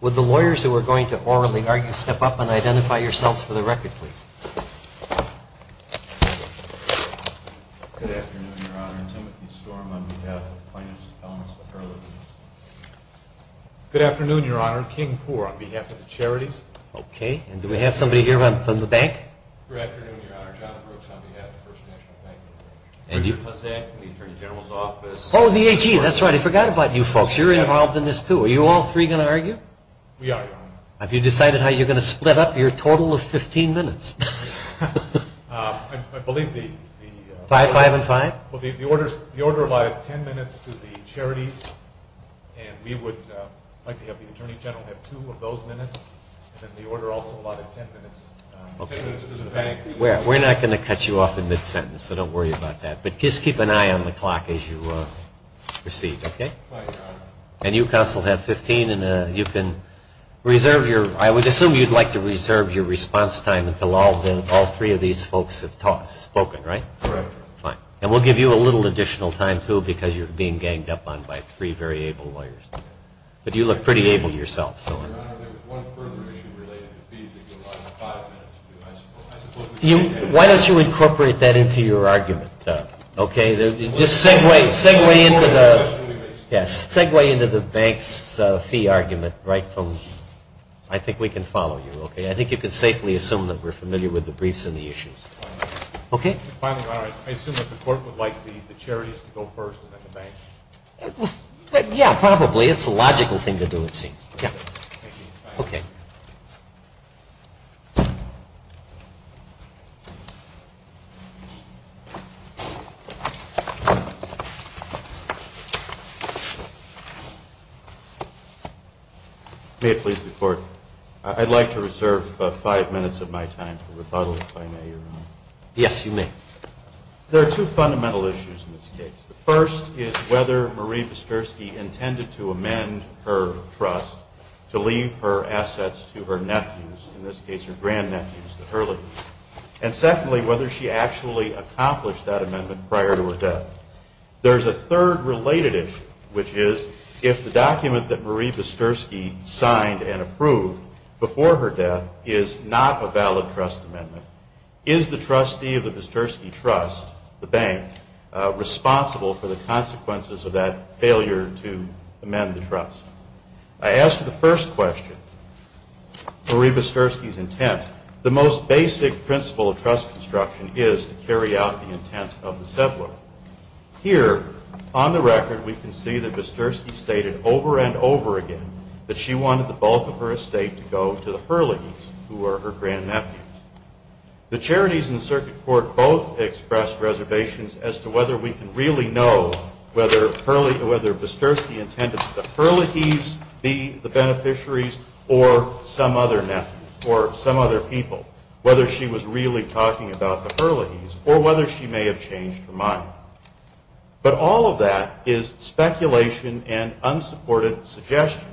Would the lawyers who are going to orally argue step up and identify yourselves for the record, please? Good afternoon, Your Honor. I'm Timothy Storm on behalf of the Plaintiffs' Appellants. Good afternoon, Your Honor. I'm King Poore on behalf of the Charities. Okay, and do we have somebody here from the bank? Good afternoon, Your Honor. John Brooks on behalf of the First National Bank. Richard Hussack, the Attorney General's Office. Oh, the AG. That's right. I forgot about you folks. You're involved in this, too. Are you all three going to argue? We are, Your Honor. Have you decided how you're going to split up your total of 15 minutes? I believe the... Five, five, and five? Well, the order allotted 10 minutes to the charities, and we would like to have the Attorney General have two of those minutes, and then the order also allotted 10 minutes to the bank. We're not going to cut you off in mid-sentence, so don't worry about that. But just keep an eye on the clock as you proceed, okay? Right, Your Honor. And you, Counsel, have 15, and you can reserve your... I would assume you'd like to reserve your response time until all three of these folks have spoken, right? Correct, Your Honor. Fine. And we'll give you a little additional time, too, because you're being ganged up on by three very able lawyers. But you look pretty able yourself, so... Your Honor, there was one further issue related to fees that you allotted five minutes to, I suppose. Why don't you incorporate that into your argument, okay? Just segue, segue into the... Yes, segue into the bank's fee argument right from... I think we can follow you, okay? Finally, Your Honor, I assume that the Court would like the charities to go first and then the bank. Yeah, probably. It's the logical thing to do, it seems. Thank you. Okay. May it please the Court, I'd like to reserve five minutes of my time for rebuttal, if I may, Your Honor. Yes, you may. There are two fundamental issues in this case. The first is whether Marie Bisturski intended to amend her trust to leave her assets to her nephews, in this case her grandnephews, the Hurleys. And secondly, whether she actually accomplished that amendment prior to her death. There's a third related issue, which is if the document that Marie Bisturski signed and approved before her death is not a valid trust amendment, is the trustee of the Bisturski Trust, the bank, responsible for the consequences of that failure to amend the trust? I ask the first question, Marie Bisturski's intent. The most basic principle of trust construction is to carry out the intent of the settler. Here, on the record, we can see that Bisturski stated over and over again that she wanted the bulk of her estate to go to the Hurleys, who were her grandnephews. The Charities and the Circuit Court both expressed reservations as to whether we can really know whether Bisturski intended the Hurleys be the beneficiaries or some other nephew or some other people, whether she was really talking about the Hurleys or whether she may have changed her mind. But all of that is speculation and unsupported suggestion.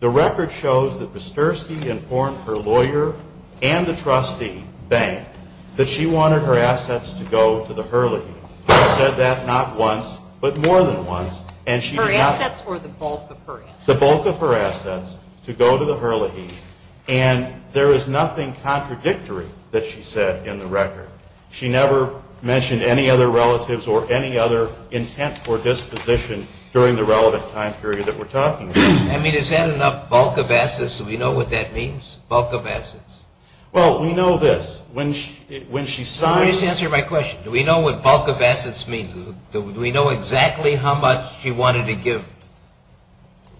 The record shows that Bisturski informed her lawyer and the trustee, bank, that she wanted her assets to go to the Hurleys. She said that not once, but more than once. Her assets were the bulk of her assets. The bulk of her assets to go to the Hurleys. And there is nothing contradictory that she said in the record. She never mentioned any other relatives or any other intent or disposition during the relevant time period that we're talking about. I mean, is that enough bulk of assets so we know what that means? Bulk of assets? Well, we know this. Let me just answer my question. Do we know what bulk of assets means? Do we know exactly how much she wanted to give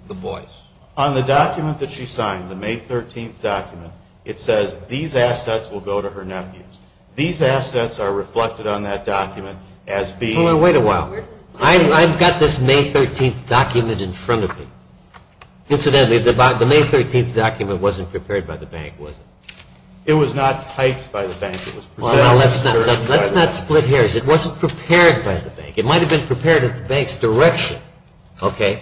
the boys? On the document that she signed, the May 13th document, it says these assets will go to her nephews. These assets are reflected on that document as being... Hold on. Wait a while. I've got this May 13th document in front of me. Incidentally, the May 13th document wasn't prepared by the bank, was it? It was not typed by the bank. Let's not split hairs. It wasn't prepared by the bank. It might have been prepared at the bank's direction. Okay.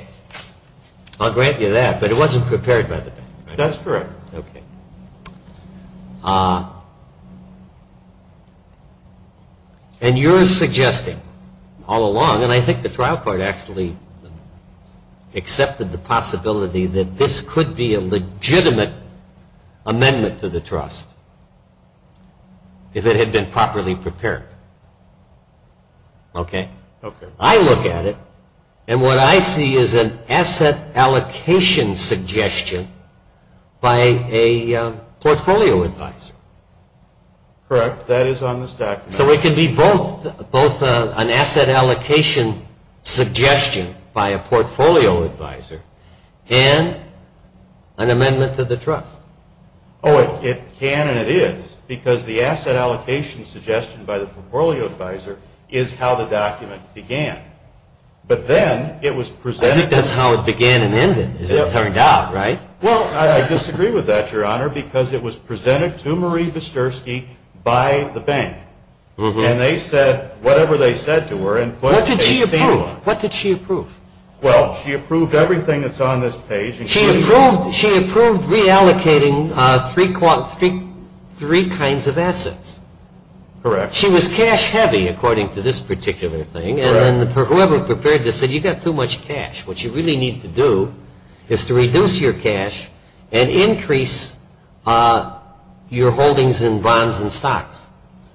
I'll grant you that. But it wasn't prepared by the bank. That's correct. Okay. And you're suggesting all along, and I think the trial court actually accepted the possibility that this could be a legitimate amendment to the trust if it had been properly prepared. Okay? Okay. I look at it, and what I see is an asset allocation suggestion by a portfolio advisor. Correct. That is on this document. So it could be both an asset allocation suggestion by a portfolio advisor and an amendment to the trust. Oh, it can and it is, because the asset allocation suggestion by the portfolio advisor is how the document began. But then it was presented... I think that's how it began and ended, as it turned out, right? Well, I disagree with that, Your Honor, because it was presented to Marie Wisterski by the bank. And they said whatever they said to her and put... What did she approve? What did she approve? Well, she approved everything that's on this page. She approved reallocating three kinds of assets. Correct. She was cash-heavy, according to this particular thing. And then whoever prepared this said, you've got too much cash. What you really need to do is to reduce your cash and increase your holdings in bonds and stocks.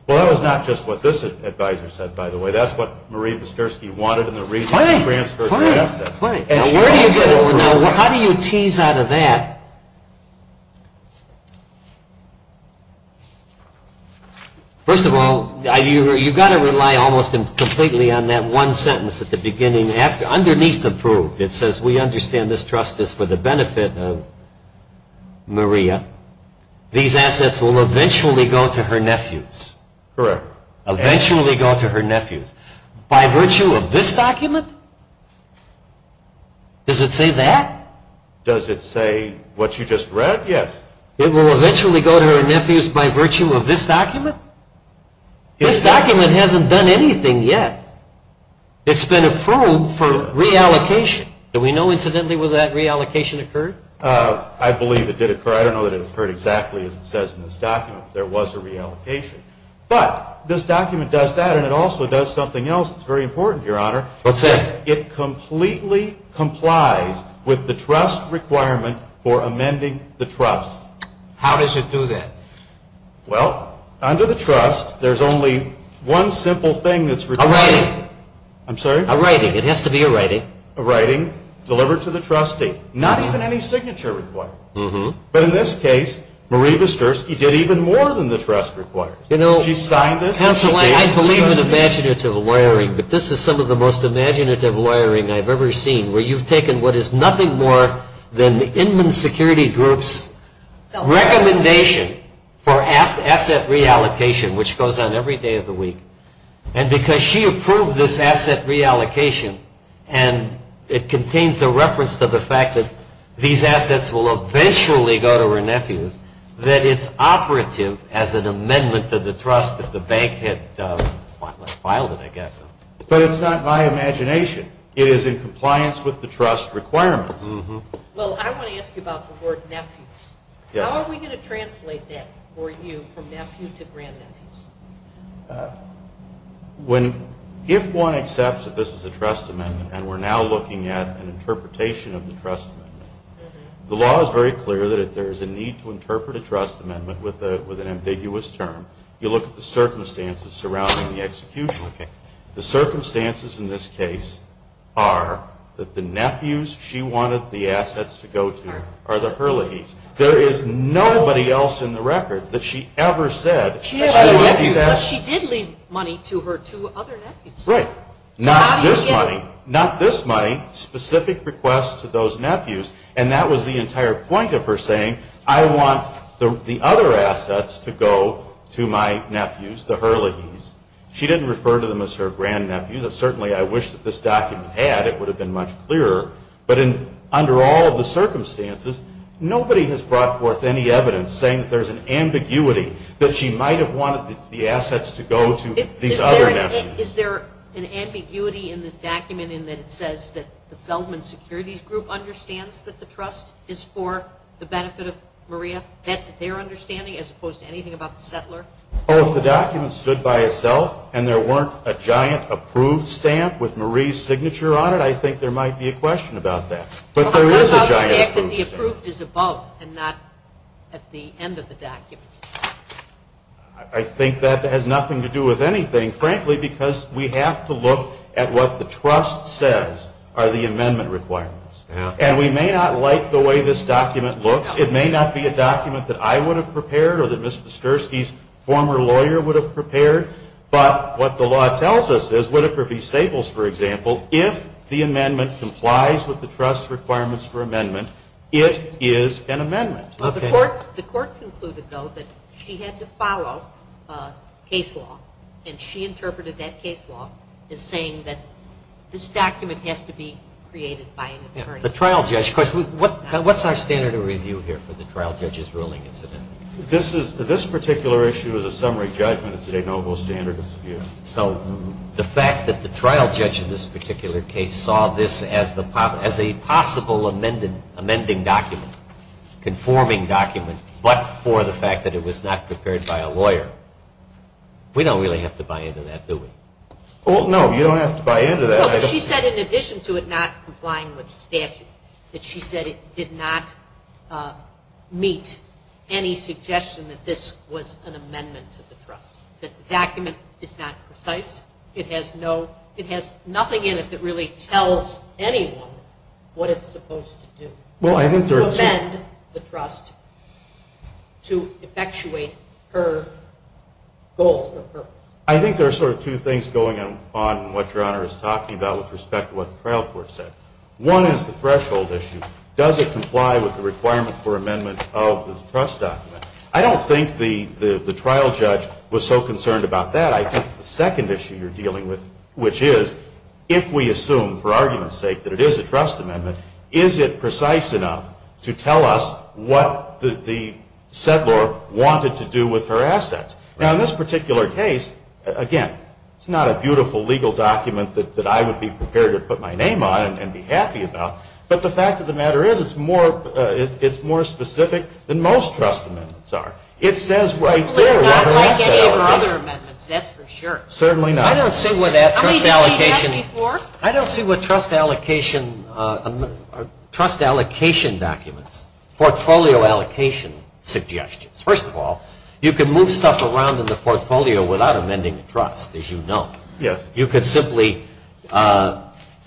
Well, that was not just what this advisor said, by the way. That's what Marie Wisterski wanted and the reason she transferred the assets. Now, how do you tease out of that? First of all, you've got to rely almost completely on that one sentence at the beginning. Underneath approved, it says, we understand this trust is for the benefit of Maria. These assets will eventually go to her nephews. Correct. Eventually go to her nephews. By virtue of this document? Does it say that? Does it say what you just read? Yes. It will eventually go to her nephews by virtue of this document? This document hasn't done anything yet. It's been approved for reallocation. Do we know, incidentally, whether that reallocation occurred? I believe it did occur. I don't know that it occurred exactly as it says in this document. There was a reallocation. But this document does that and it also does something else that's very important, Your Honor. What's that? It completely complies with the trust requirement for amending the trust. How does it do that? Well, under the trust, there's only one simple thing that's required. A writing. I'm sorry? A writing. It has to be a writing. A writing delivered to the trustee. Not even any signature required. But in this case, Marie Wisterski did even more than the trust requires. She signed this. Counsel, I believe it was imaginative wiring, but this is some of the most imaginative wiring I've ever seen, where you've taken what is nothing more than the Inman Security Group's recommendation for asset reallocation, which goes on every day of the week, and because she approved this asset reallocation and it contains a reference to the fact that these assets will eventually go to her nephews, that it's operative as an amendment to the trust if the bank had filed it, I guess. But it's not by imagination. It is in compliance with the trust requirements. Well, I want to ask you about the word nephews. How are we going to translate that for you from nephew to grandnephew? If one accepts that this is a trust amendment and we're now looking at an interpretation of the trust amendment, the law is very clear that if there is a need to interpret a trust amendment with an ambiguous term, you look at the circumstances surrounding the execution. The circumstances in this case are that the nephews she wanted the assets to go to are the Hurleys. There is nobody else in the record that she ever said She did leave money to her two other nephews. Right. Not this money. Not this money. Specific requests to those nephews. And that was the entire point of her saying, I want the other assets to go to my nephews, the Hurleys. She didn't refer to them as her grandnephews. Certainly, I wish that this document had. It would have been much clearer. But under all of the circumstances, nobody has brought forth any evidence saying that there's an ambiguity that she might have wanted the assets to go to these other nephews. Is there an ambiguity in this document in that it says that the Feldman Securities Group understands that the trust is for the benefit of Maria? That's their understanding as opposed to anything about the settler? Oh, if the document stood by itself and there weren't a giant approved stamp with Marie's signature on it, I think there might be a question about that. But there is a giant approved stamp. How about the fact that the approved is above and not at the end of the document? I think that has nothing to do with anything, frankly, because we have to look at what the trust says are the amendment requirements. And we may not like the way this document looks. It may not be a document that I would have prepared or that Ms. Psterski's former lawyer would have prepared. But what the law tells us is, Whitaker v. Staples, for example, if the amendment complies with the trust's requirements for amendment, it is an amendment. The court concluded, though, that she had to follow case law, and she interpreted that case law as saying that this document has to be created by an attorney. A trial judge question. What's our standard of review here for the trial judge's ruling, incidentally? This particular issue is a summary judgment. It's a noble standard of review. So the fact that the trial judge in this particular case saw this as a possible amending document, conforming document, but for the fact that it was not prepared by a lawyer, we don't really have to buy into that, do we? No, you don't have to buy into that. No, but she said in addition to it not complying with the statute, that she said it did not meet any suggestion that this was an amendment to the trust, that the document is not precise. It has nothing in it that really tells anyone what it's supposed to do to amend the trust to effectuate her goal or purpose. I think there are sort of two things going on in what Your Honor is talking about with respect to what the trial court said. One is the threshold issue. Does it comply with the requirement for amendment of the trust document? I don't think the trial judge was so concerned about that. I think the second issue you're dealing with, which is if we assume for argument's sake that it is a trust amendment, is it precise enough to tell us what the settlor wanted to do with her assets? Now, in this particular case, again, it's not a beautiful legal document that I would be prepared to put my name on and be happy about, but the fact of the matter is it's more specific than most trust amendments are. It says right there what her assets are. Well, it's not like any of her other amendments, that's for sure. Certainly not. I don't see what trust allocation documents, portfolio allocation suggestions. First of all, you can move stuff around in the portfolio without amending the trust, as you know. Yes. You can simply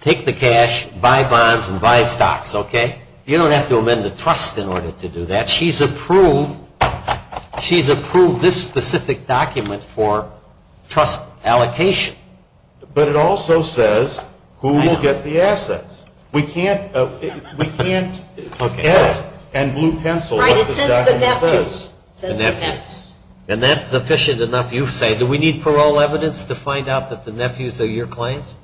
take the cash, buy bonds, and buy stocks, okay? You don't have to amend the trust in order to do that. She's approved this specific document for trust allocation. But it also says who will get the assets. We can't edit and blue pencil what this document says. Right, it says the nephews. It says the nephews. And that's sufficient enough, you say, do we need parole evidence to find out that the nephews are your clients?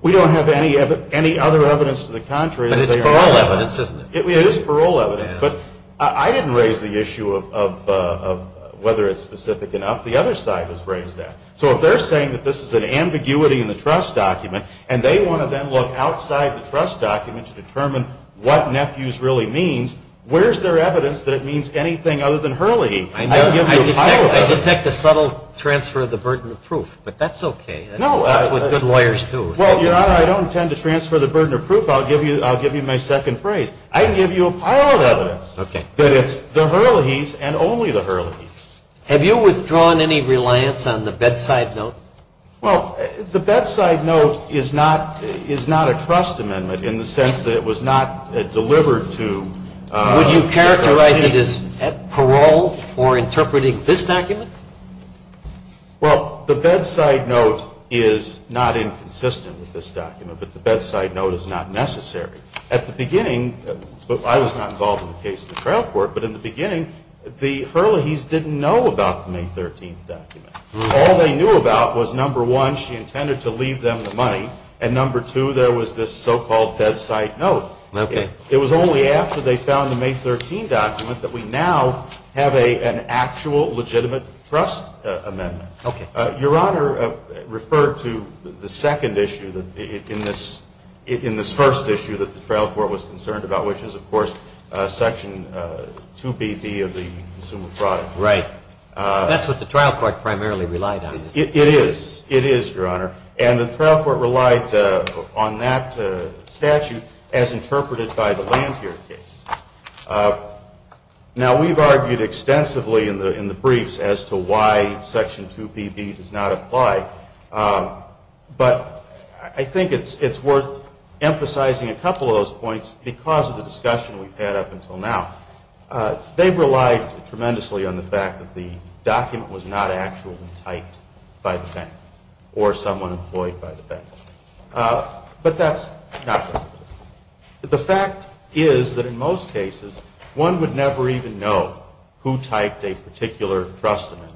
We don't have any other evidence to the contrary. But it's parole evidence, isn't it? It is parole evidence, but I didn't raise the issue of whether it's specific enough. The other side has raised that. So if they're saying that this is an ambiguity in the trust document, and they want to then look outside the trust document to determine what nephews really means, where's their evidence that it means anything other than Hurley? I detect a subtle transfer of the burden of proof, but that's okay. That's what good lawyers do. Well, Your Honor, I don't intend to transfer the burden of proof. I'll give you my second phrase. I can give you a pile of evidence that it's the Hurleys and only the Hurleys. Have you withdrawn any reliance on the bedside note? Well, the bedside note is not a trust amendment in the sense that it was not delivered to the trustee. So you raise it as parole for interpreting this document? Well, the bedside note is not inconsistent with this document, but the bedside note is not necessary. At the beginning, I was not involved in the case of the trial court, but in the beginning the Hurleys didn't know about the May 13th document. All they knew about was, number one, she intended to leave them the money, and number two, there was this so-called bedside note. Okay. It was only after they found the May 13th document that we now have an actual legitimate trust amendment. Okay. Your Honor referred to the second issue in this first issue that the trial court was concerned about, which is, of course, Section 2BD of the Consumer Product Act. Right. That's what the trial court primarily relied on. It is. It is, Your Honor. And the trial court relied on that statute as interpreted by the Lanphier case. Now, we've argued extensively in the briefs as to why Section 2BD does not apply, but I think it's worth emphasizing a couple of those points because of the discussion we've had up until now. They've relied tremendously on the fact that the document was not actually typed by the bank or someone employed by the bank. But that's not true. The fact is that in most cases, one would never even know who typed a particular trust amendment.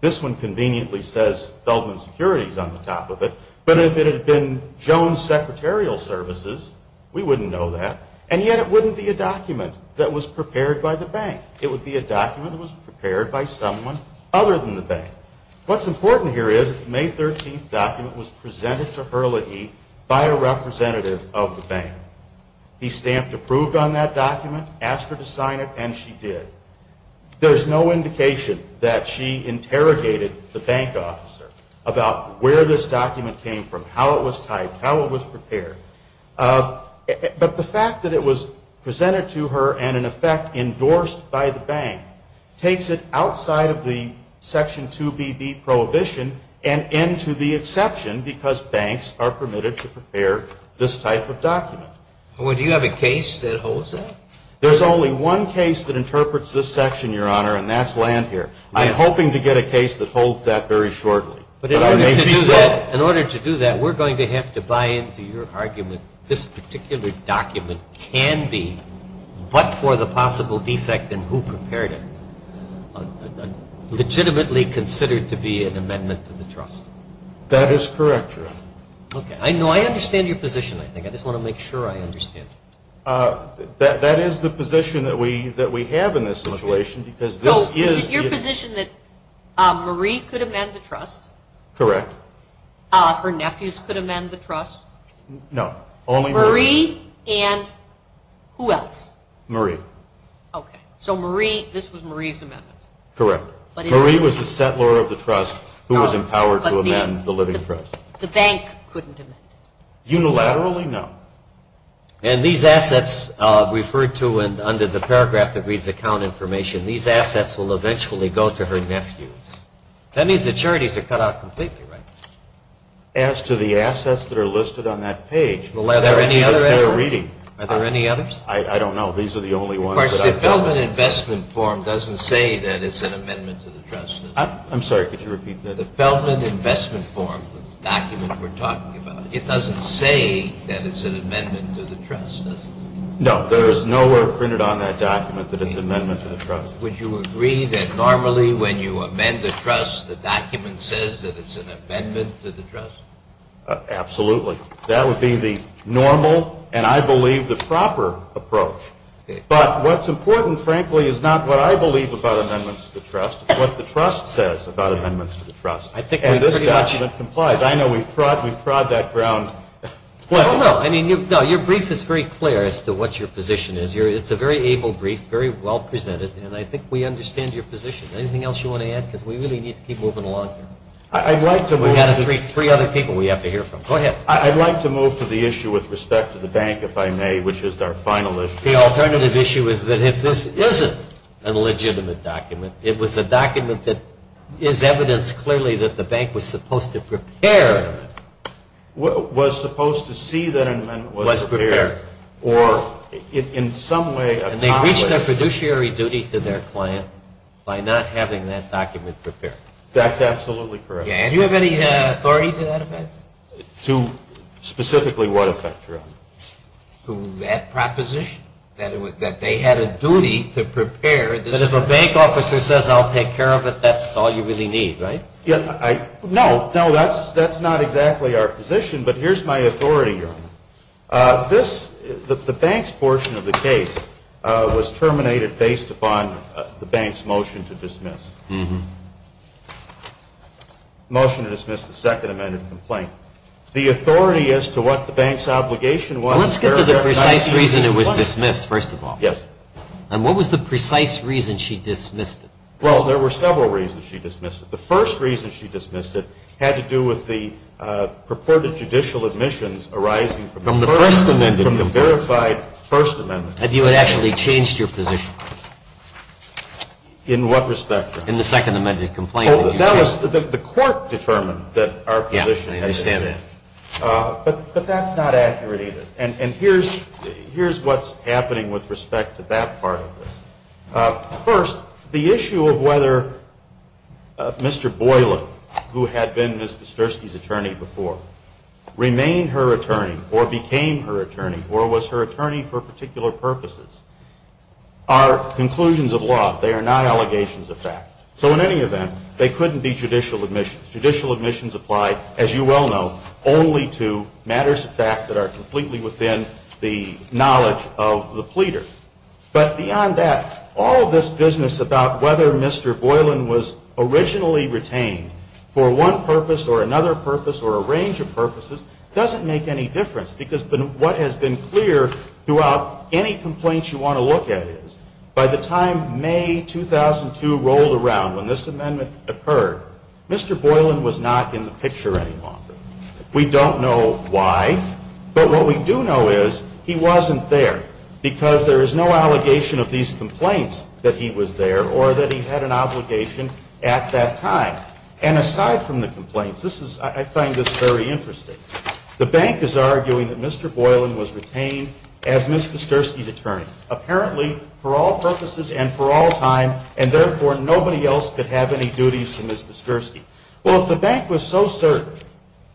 This one conveniently says Feldman Securities on the top of it, but if it had been Jones Secretarial Services, we wouldn't know that, and yet it wouldn't be a document that was prepared by the bank. It would be a document that was prepared by someone other than the bank. What's important here is the May 13th document was presented to Hurley by a representative of the bank. He stamped approved on that document, asked her to sign it, and she did. There's no indication that she interrogated the bank officer about where this document came from, how it was typed, how it was prepared. But the fact that it was presented to her and, in effect, endorsed by the bank, takes it outside of the Section 2BB prohibition and into the exception because banks are permitted to prepare this type of document. Do you have a case that holds that? There's only one case that interprets this section, Your Honor, and that's Landhier. I'm hoping to get a case that holds that very shortly. But in order to do that, we're going to have to buy into your argument. This particular document can be, but for the possible defect in who prepared it, legitimately considered to be an amendment to the trust. That is correct, Your Honor. Okay. No, I understand your position, I think. I just want to make sure I understand. That is the position that we have in this situation because this is the- So is it your position that Marie could amend the trust? Correct. Her nephews could amend the trust? No. Marie and who else? Marie. Okay. So this was Marie's amendment? Correct. Marie was the settler of the trust who was empowered to amend the living trust. The bank couldn't amend it? Unilaterally, no. And these assets referred to under the paragraph that reads account information, these assets will eventually go to her nephews. That means the charities are cut out completely, right? As to the assets that are listed on that page- Well, are there any other assets? Are there any others? I don't know. These are the only ones. Of course, the Feldman Investment Form doesn't say that it's an amendment to the trust. I'm sorry, could you repeat that? The Feldman Investment Form document we're talking about, it doesn't say that it's an amendment to the trust, does it? No. There is no word printed on that document that it's an amendment to the trust. Would you agree that normally when you amend the trust, the document says that it's an amendment to the trust? Absolutely. That would be the normal and, I believe, the proper approach. But what's important, frankly, is not what I believe about amendments to the trust. It's what the trust says about amendments to the trust. And this document complies. I know we've prod that ground. No, your brief is very clear as to what your position is. It's a very able brief, very well presented, and I think we understand your position. Anything else you want to add? Because we really need to keep moving along here. We've got three other people we have to hear from. Go ahead. I'd like to move to the issue with respect to the bank, if I may, which is our final issue. The alternative issue is that if this isn't a legitimate document, it was a document that is evidence clearly that the bank was supposed to prepare. Was supposed to see that an amendment was prepared. Was prepared. Or in some way accomplished. They reached their fiduciary duty to their client by not having that document prepared. That's absolutely correct. Do you have any authority to that effect? To specifically what effect, Your Honor? To that proposition, that they had a duty to prepare this document. But if a bank officer says, I'll take care of it, that's all you really need, right? No, no, that's not exactly our position. But here's my authority, Your Honor. The bank's portion of the case was terminated based upon the bank's motion to dismiss. Motion to dismiss the second amended complaint. The authority as to what the bank's obligation was. Let's get to the precise reason it was dismissed, first of all. Yes. And what was the precise reason she dismissed it? Well, there were several reasons she dismissed it. The first reason she dismissed it had to do with the purported judicial admissions arising from the first amendment. From the verified first amendment. Had you actually changed your position? In what respect, Your Honor? In the second amended complaint that you changed. Oh, that was the court determined that our position had to be. Yeah, I understand that. But that's not accurate either. And here's what's happening with respect to that part of this. First, the issue of whether Mr. Boyla, who had been Ms. Kasturski's attorney before, remained her attorney or became her attorney or was her attorney for particular purposes, are conclusions of law. They are not allegations of fact. So in any event, they couldn't be judicial admissions. Judicial admissions apply, as you well know, only to matters of fact that are completely within the knowledge of the pleader. But beyond that, all of this business about whether Mr. Boylan was originally retained for one purpose or another purpose or a range of purposes doesn't make any difference. Because what has been clear throughout any complaints you want to look at is, by the time May 2002 rolled around, when this amendment occurred, Mr. Boylan was not in the picture any longer. We don't know why. But what we do know is he wasn't there because there is no allegation of these complaints that he was there or that he had an obligation at that time. And aside from the complaints, I find this very interesting. The bank is arguing that Mr. Boylan was retained as Ms. Kasturski's attorney, apparently for all purposes and for all time, and therefore nobody else could have any duties to Ms. Kasturski. Well, if the bank was so certain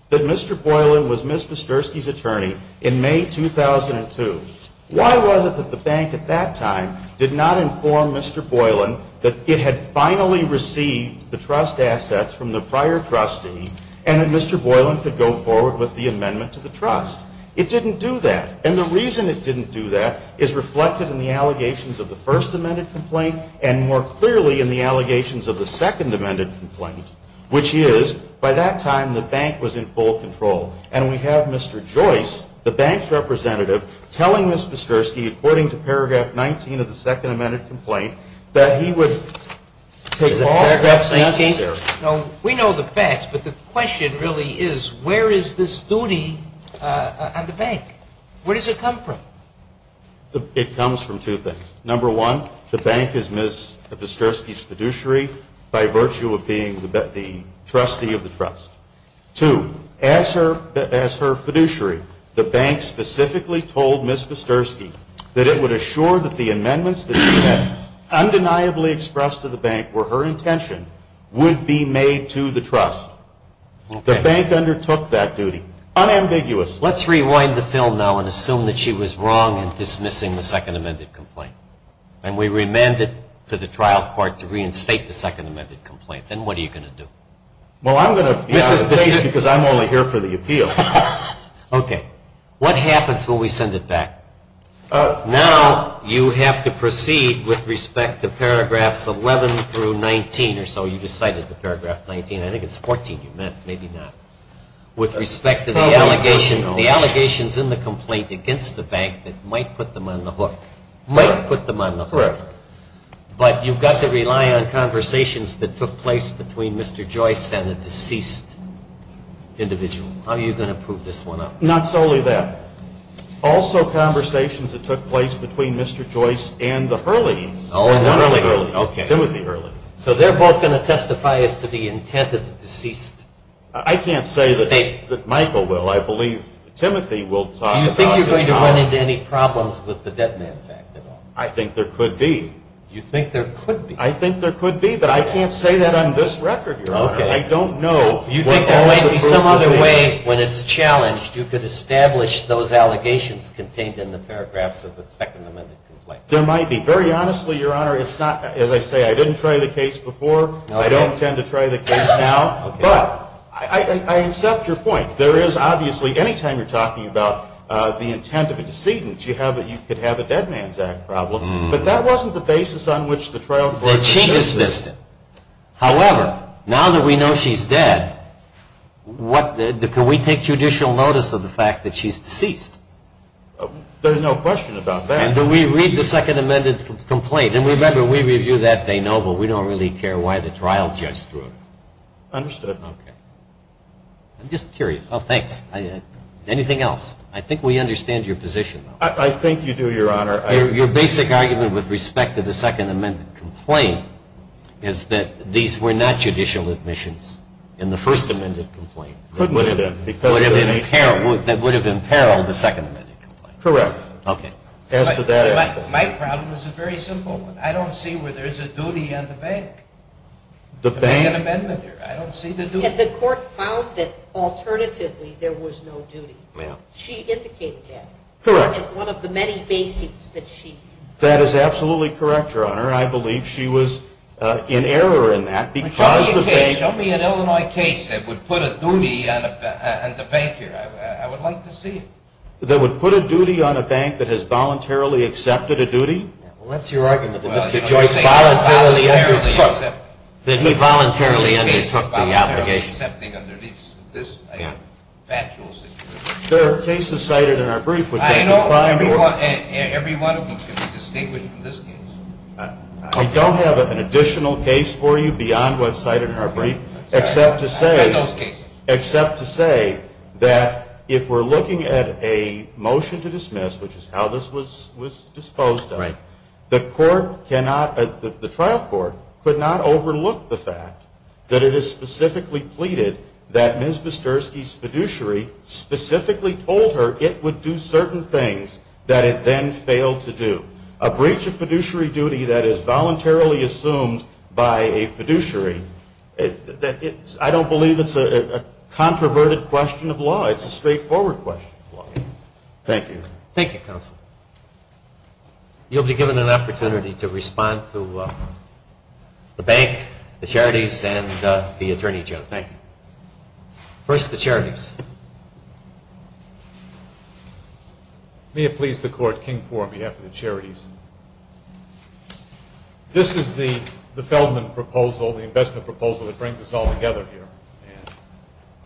that Mr. Boylan was Ms. Kasturski's attorney in May 2002, why was it that the bank at that time did not inform Mr. Boylan that it had finally received the trust assets from the prior trustee and that Mr. Boylan could go forward with the amendment to the trust? It didn't do that. And the reason it didn't do that is reflected in the allegations of the first amended complaint and more clearly in the allegations of the second amended complaint, which is by that time the bank was in full control. And we have Mr. Joyce, the bank's representative, telling Ms. Kasturski, according to paragraph 19 of the second amended complaint, that he would take all steps necessary. We know the facts, but the question really is where is this duty on the bank? Where does it come from? It comes from two things. Number one, the bank is Ms. Kasturski's fiduciary by virtue of being the trustee of the trust. Two, as her fiduciary, the bank specifically told Ms. Kasturski that it would assure that the amendments that she had undeniably expressed to the bank were her intention would be made to the trust. The bank undertook that duty. Unambiguous. Let's rewind the film now and assume that she was wrong in dismissing the second amended complaint. And we remanded to the trial court to reinstate the second amended complaint. Then what are you going to do? Well, I'm going to be out of place because I'm only here for the appeal. Okay. What happens when we send it back? Now you have to proceed with respect to paragraphs 11 through 19 or so. You just cited the paragraph 19. I think it's 14 you meant. Maybe not. With respect to the allegations in the complaint against the bank that might put them on the hook. Might put them on the hook. Correct. But you've got to rely on conversations that took place between Mr. Joyce and the deceased individual. How are you going to prove this one up? Not solely that. Also conversations that took place between Mr. Joyce and the Hurley. Oh, and Timothy Hurley. Timothy Hurley. So they're both going to testify as to the intent of the deceased. I can't say that Michael will. I believe Timothy will talk about his knowledge. Do you think you're going to run into any problems with the Dead Man's Act at all? I think there could be. You think there could be? I think there could be, but I can't say that on this record, Your Honor. Okay. I don't know. You think there might be some other way when it's challenged you could establish those allegations contained in the paragraphs of the second amended complaint? There might be. Very honestly, Your Honor, it's not, as I say, I didn't try the case before. I don't intend to try the case now. Okay. But I accept your point. There is obviously, anytime you're talking about the intent of a decedent, you could have a Dead Man's Act problem. But that wasn't the basis on which the trial court was set. She dismissed it. However, now that we know she's dead, can we take judicial notice of the fact that she's deceased? There's no question about that. And do we read the second amended complaint? And remember, we review that. They know, but we don't really care why the trial judge threw it. Understood. I'm just curious. Oh, thanks. Anything else? I think we understand your position. I think you do, Your Honor. Your basic argument with respect to the second amended complaint is that these were not judicial admissions in the first amended complaint. Couldn't have been. That would have imperiled the second amended complaint. Correct. Okay. My problem is a very simple one. I don't see where there's a duty on the bank to make an amendment here. I don't see the duty. The court found that, alternatively, there was no duty. She indicated that. Correct. That is one of the many basics that she used. That is absolutely correct, Your Honor. I believe she was in error in that. Show me an Illinois case that would put a duty on the bank here. I would like to see it. That would put a duty on a bank that has voluntarily accepted a duty? Well, that's your argument, that Mr. Joyce voluntarily undertook the obligation. That he voluntarily undertook the obligation. Voluntarily accepting under this factual situation. There are cases cited in our brief which can define. I know every one of them can be distinguished from this case. I don't have an additional case for you beyond what's cited in our brief except to say. I've read those cases. A motion to dismiss, which is how this was disposed of. The trial court could not overlook the fact that it is specifically pleaded. That Ms. Busterski's fiduciary specifically told her it would do certain things that it then failed to do. A breach of fiduciary duty that is voluntarily assumed by a fiduciary. I don't believe it's a controverted question of law. It's a straightforward question of law. Thank you. Thank you, counsel. You'll be given an opportunity to respond to the bank, the charities, and the attorney general. Thank you. First, the charities. May it please the court, King for on behalf of the charities. This is the Feldman proposal, the investment proposal that brings us all together here.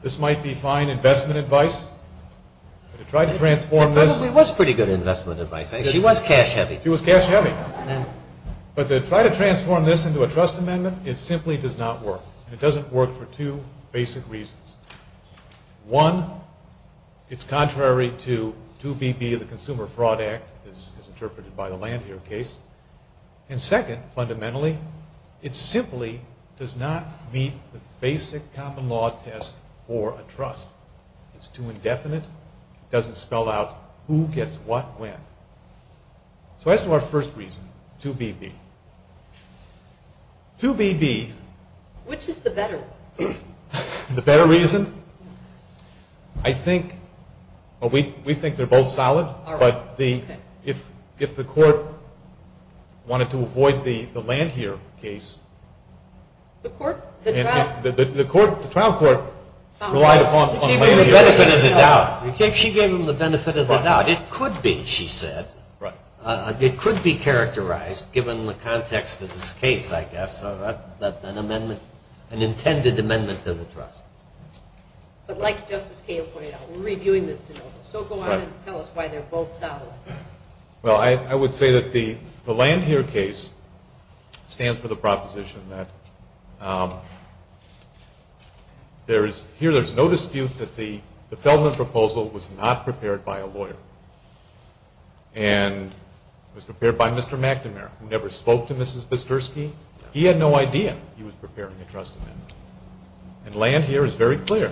This might be fine investment advice to try to transform this. It probably was pretty good investment advice. She was cash heavy. She was cash heavy. But to try to transform this into a trust amendment, it simply does not work. It doesn't work for two basic reasons. One, it's contrary to 2BB, the Consumer Fraud Act, as interpreted by the Landhier case. And second, fundamentally, it simply does not meet the basic common law test for a trust. It's too indefinite. It doesn't spell out who gets what when. So as to our first reason, 2BB. 2BB. Which is the better one? The better reason? I think, well, we think they're both solid. But if the court wanted to avoid the Landhier case. The court? The trial court relied upon Landhier. She gave them the benefit of the doubt. It could be, she said. It could be characterized, given the context of this case, I guess, that an amendment, an intended amendment to the trust. But like Justice Cahill pointed out, we're reviewing this de novo. So go on and tell us why they're both solid. Well, I would say that the Landhier case stands for the proposition that there is, here there's no dispute that the Feldman proposal was not prepared by a lawyer. And it was prepared by Mr. McNamara, who never spoke to Mrs. Bisturski. He had no idea he was preparing a trust amendment. And Landhier is very clear.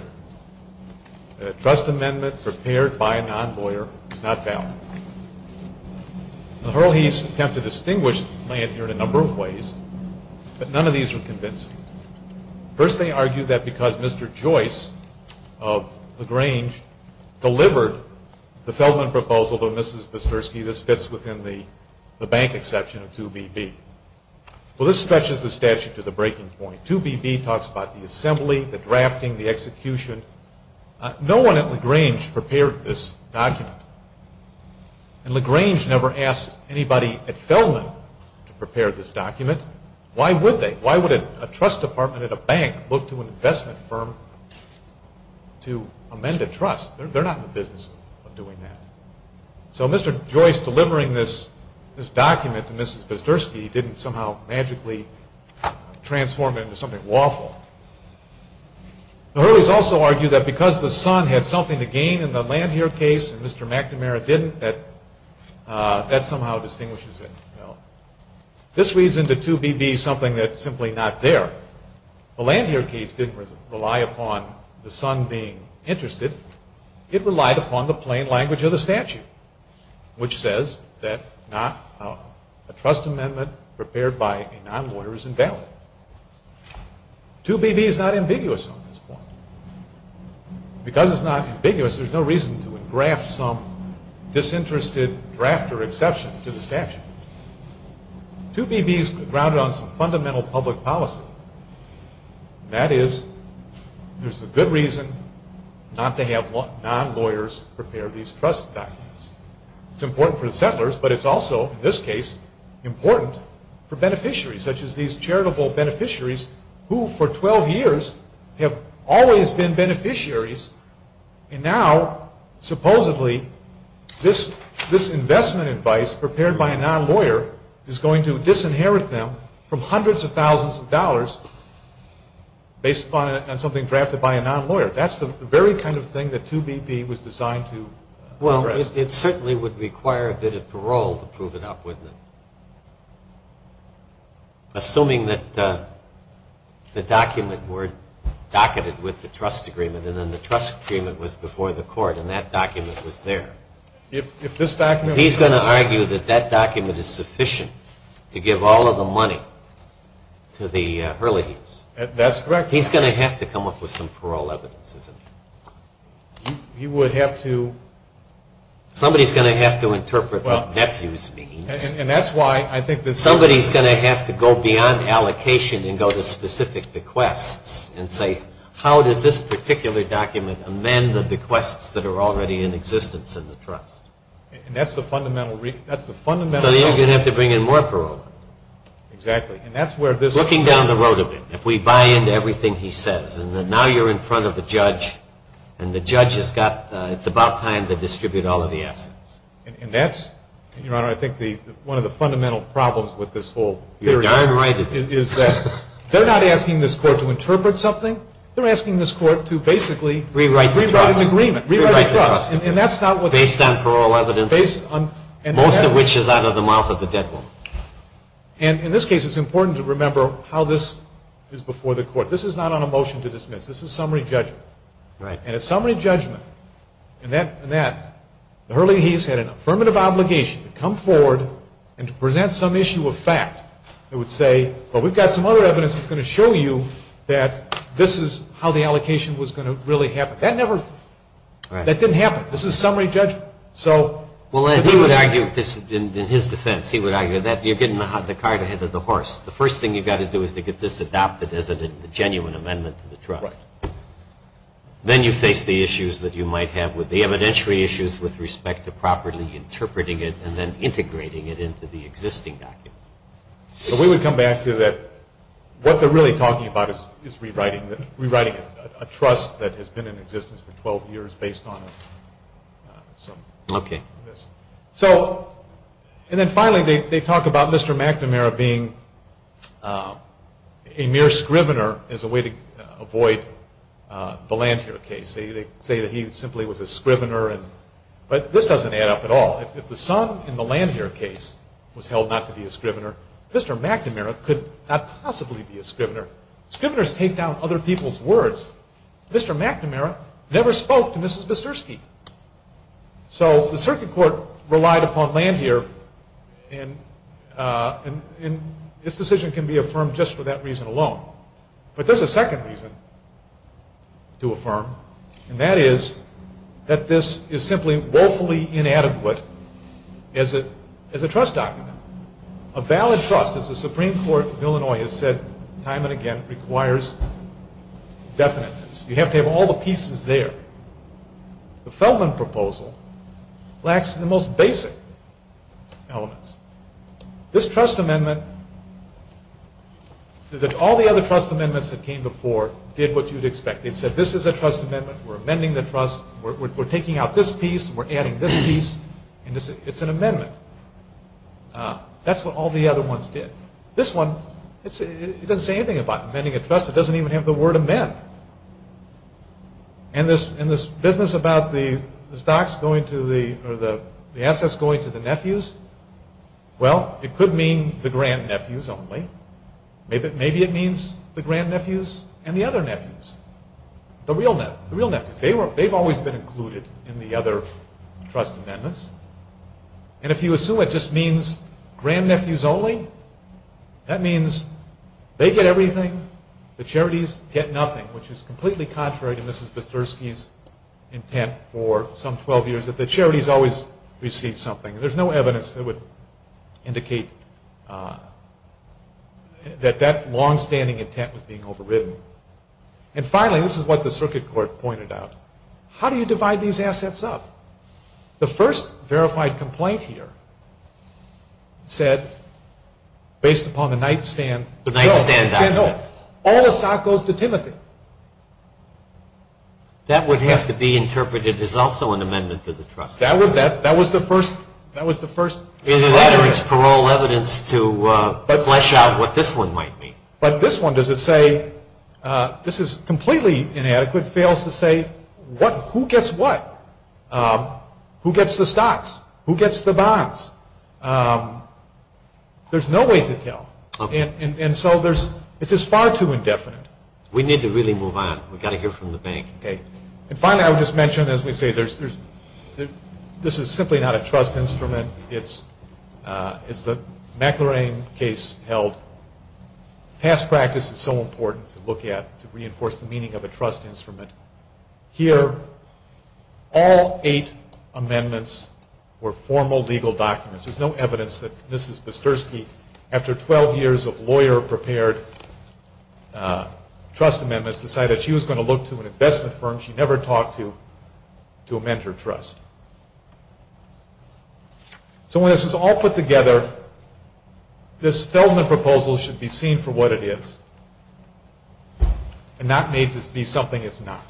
A trust amendment prepared by a non-lawyer is not valid. The Hurleys attempted to distinguish Landhier in a number of ways, but none of these were convincing. First, they argued that because Mr. Joyce of LaGrange delivered the Feldman proposal to Mrs. Bisturski, this fits within the bank exception of 2BB. Well, this stretches the statute to the breaking point. 2BB talks about the assembly, the drafting, the execution. No one at LaGrange prepared this document. And LaGrange never asked anybody at Feldman to prepare this document. Why would they? Why would a trust department at a bank look to an investment firm to amend a trust? They're not in the business of doing that. So Mr. Joyce delivering this document to Mrs. Bisturski didn't somehow magically transform it into something lawful. The Hurleys also argue that because the son had something to gain in the Landhier case and Mr. McNamara didn't, that that somehow distinguishes it. This reads into 2BB something that's simply not there. The Landhier case didn't rely upon the son being interested. It relied upon the plain language of the statute, which says that a trust amendment prepared by a non-lawyer is invalid. 2BB is not ambiguous on this point. Because it's not ambiguous, there's no reason to engraft some disinterested draft or exception to the statute. 2BB is grounded on some fundamental public policy. That is, there's a good reason not to have non-lawyers prepare these trust documents. It's important for the settlers, but it's also, in this case, important for beneficiaries, such as these charitable beneficiaries who, for 12 years, have always been beneficiaries. And now, supposedly, this investment advice prepared by a non-lawyer is going to disinherit them from hundreds of thousands of dollars based on something drafted by a non-lawyer. That's the very kind of thing that 2BB was designed to address. Well, it certainly would require a bit of parole to prove it up, wouldn't it? Assuming that the document were docketed with the trust agreement and then the trust agreement was before the court and that document was there. He's going to argue that that document is sufficient to give all of the money to the Hurleys. That's correct. He's going to have to come up with some parole evidence, isn't he? He would have to... Somebody's going to have to interpret what nephews means. And that's why I think this... Somebody's going to have to go beyond allocation and go to specific bequests and say, how does this particular document amend the bequests that are already in existence in the trust? And that's the fundamental... So you're going to have to bring in more parole. Exactly. And that's where this... Looking down the road a bit. If we buy into everything he says, and now you're in front of a judge and the judge has got... it's about time to distribute all of the assets. And that's, Your Honor, I think one of the fundamental problems with this whole... You're darn right it is. They're not asking this court to interpret something. They're asking this court to basically... Rewrite the trust. Rewrite an agreement. Rewrite the trust. Based on parole evidence, most of which is out of the mouth of the dead woman. And in this case, it's important to remember how this is before the court. This is not on a motion to dismiss. This is summary judgment. And it's summary judgment in that the Hurleys had an affirmative obligation to come forward and to present some issue of fact. They would say, well, we've got some other evidence that's going to show you that this is how the allocation was going to really happen. That never... that didn't happen. This is summary judgment. So... Well, he would argue, in his defense, he would argue that you're getting the cart ahead of the horse. The first thing you've got to do is to get this adopted as a genuine amendment to the trust. Right. Then you face the issues that you might have with the evidentiary issues with respect to properly interpreting it and then integrating it into the existing document. So we would come back to that. What they're really talking about is rewriting a trust that has been in existence for 12 years based on some of this. Okay. So... And then finally, they talk about Mr. McNamara being a mere scrivener as a way to avoid the Landshear case. They say that he simply was a scrivener and... But this doesn't add up at all. If the son in the Landshear case was held not to be a scrivener, Mr. McNamara could not possibly be a scrivener. Scriveners take down other people's words. Mr. McNamara never spoke to Mrs. Besersky. So the circuit court relied upon Landshear and this decision can be affirmed just for that reason alone. But there's a second reason to affirm, and that is that this is simply woefully inadequate as a trust document. A valid trust, as the Supreme Court of Illinois has said time and again, requires definiteness. You have to have all the pieces there. The Feldman proposal lacks the most basic elements. This trust amendment is that all the other trust amendments that came before did what you'd expect. They said this is a trust amendment, we're amending the trust, we're taking out this piece, we're adding this piece, and it's an amendment. That's what all the other ones did. This one, it doesn't say anything about amending a trust. It doesn't even have the word amend. And this business about the assets going to the nephews, well, it could mean the grandnephews only. Maybe it means the grandnephews and the other nephews, the real nephews. They've always been included in the other trust amendments. And if you assume it just means grandnephews only, that means they get everything, the charities get nothing, which is completely contrary to Mrs. Bisturski's intent for some 12 years, that the charities always receive something. There's no evidence that would indicate that that longstanding intent was being overridden. And finally, this is what the circuit court pointed out. How do you divide these assets up? The first verified complaint here said, based upon the nightstand document, all the stock goes to Timothy. That would have to be interpreted as also an amendment to the trust. That was the first. Either that or it's parole evidence to flesh out what this one might mean. But this one, does it say, this is completely inadequate, if it fails to say who gets what? Who gets the stocks? Who gets the bonds? There's no way to tell. And so this is far too indefinite. We need to really move on. We've got to hear from the bank. And finally, I would just mention, as we say, this is simply not a trust instrument. It's the McLaren case held. Past practice is so important to look at to reinforce the meaning of a trust instrument. Here, all eight amendments were formal legal documents. There's no evidence that Mrs. Bisturski, after 12 years of lawyer-prepared trust amendments, decided she was going to look to an investment firm she never talked to to amend her trust. So when this is all put together, this Feldman proposal should be seen for what it is and not made to be something it's not.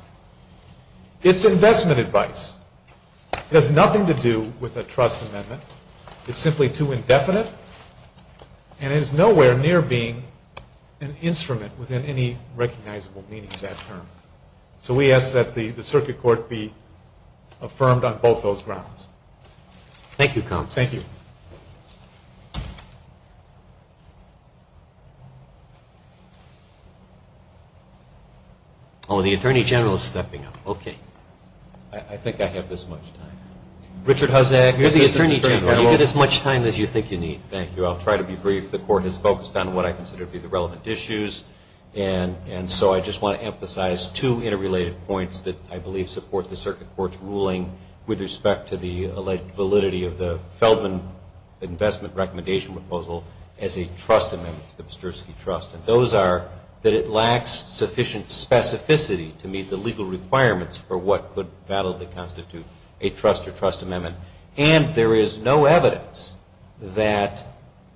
It's investment advice. It has nothing to do with a trust amendment. It's simply too indefinite. And it is nowhere near being an instrument within any recognizable meaning of that term. So we ask that the circuit court be affirmed on both those grounds. Thank you, Counsel. Thank you. Oh, the Attorney General is stepping up. Okay. I think I have this much time. Richard Hozniak, you're the Attorney General. You have as much time as you think you need. Thank you. I'll try to be brief. The Court has focused on what I consider to be the relevant issues, and so I just want to emphasize two interrelated points that I believe support the alleged validity of the Feldman Investment Recommendation Proposal as a trust amendment to the Bisturski Trust. And those are that it lacks sufficient specificity to meet the legal requirements for what could validly constitute a trust or trust amendment. And there is no evidence that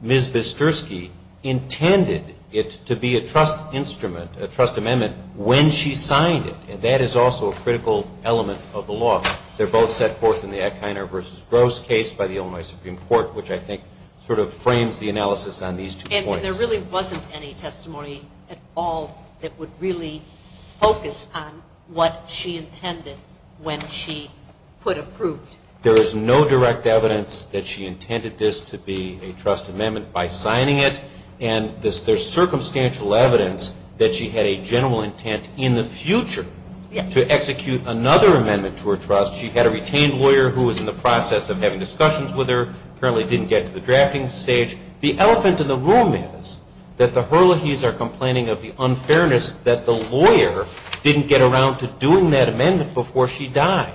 Ms. Bisturski intended it to be a trust instrument, a trust amendment, when she signed it. And that is also a critical element of the law. They're both set forth in the Eichner v. Gross case by the Illinois Supreme Court, which I think sort of frames the analysis on these two points. And there really wasn't any testimony at all that would really focus on what she intended when she put approved. There is no direct evidence that she intended this to be a trust amendment by signing it, and there's circumstantial evidence that she had a general intent in the future to execute another amendment to her trust. She had a retained lawyer who was in the process of having discussions with her, apparently didn't get to the drafting stage. The elephant in the room is that the Herlihys are complaining of the unfairness that the lawyer didn't get around to doing that amendment before she died.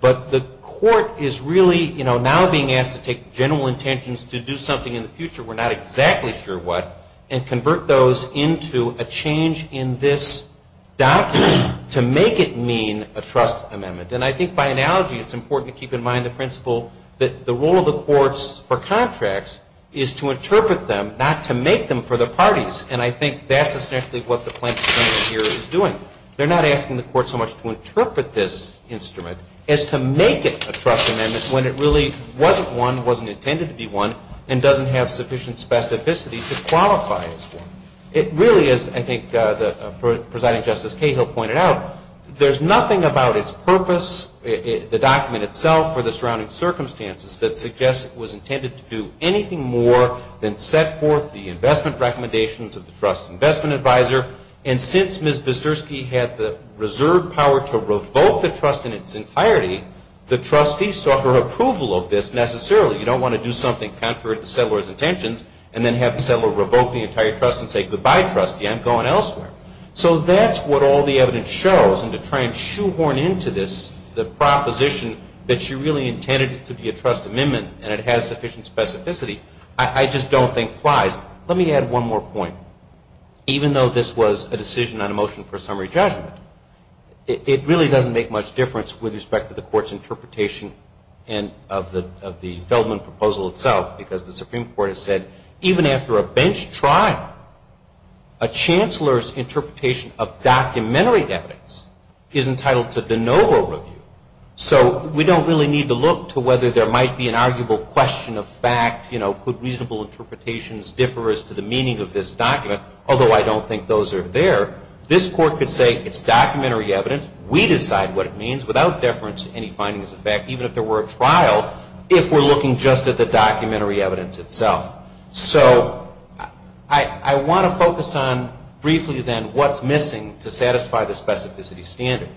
But the court is really now being asked to take general intentions to do something in the future, we're not exactly sure what, and convert those into a change in this document to make it mean a trust amendment. And I think by analogy, it's important to keep in mind the principle that the role of the courts for contracts is to interpret them, not to make them for the parties. And I think that's essentially what the plaintiff here is doing. They're not asking the court so much to interpret this instrument as to make it a trust amendment when it really wasn't one, wasn't intended to be one, and doesn't have sufficient specificity to qualify as one. It really is, I think, as President Justice Cahill pointed out, there's nothing about its purpose, the document itself, or the surrounding circumstances that suggests it was intended to do anything more than set forth the investment recommendations of the trust investment advisor. And since Ms. Bisturski had the reserved power to revoke the trust in its entirety, the trustee sought her approval of this necessarily. You don't want to do something contrary to the settler's intentions and then have the settler revoke the entire trust and say, goodbye, trustee, I'm going elsewhere. So that's what all the evidence shows. And to try and shoehorn into this the proposition that she really intended it to be a trust amendment and it has sufficient specificity, I just don't think flies. Let me add one more point. Even though this was a decision on a motion for summary judgment, it really doesn't make much difference with respect to the court's interpretation of the Feldman proposal itself because the Supreme Court has said, even after a bench trial, a chancellor's interpretation of documentary evidence is entitled to de novo review. So we don't really need to look to whether there might be an arguable question of fact, could reasonable interpretations differ as to the meaning of this document, although I don't think those are there. This court could say it's documentary evidence, we decide what it means, without deference to any findings of fact, even if there were a trial, if we're looking just at the documentary evidence itself. So I want to focus on briefly then what's missing to satisfy the specificity standard.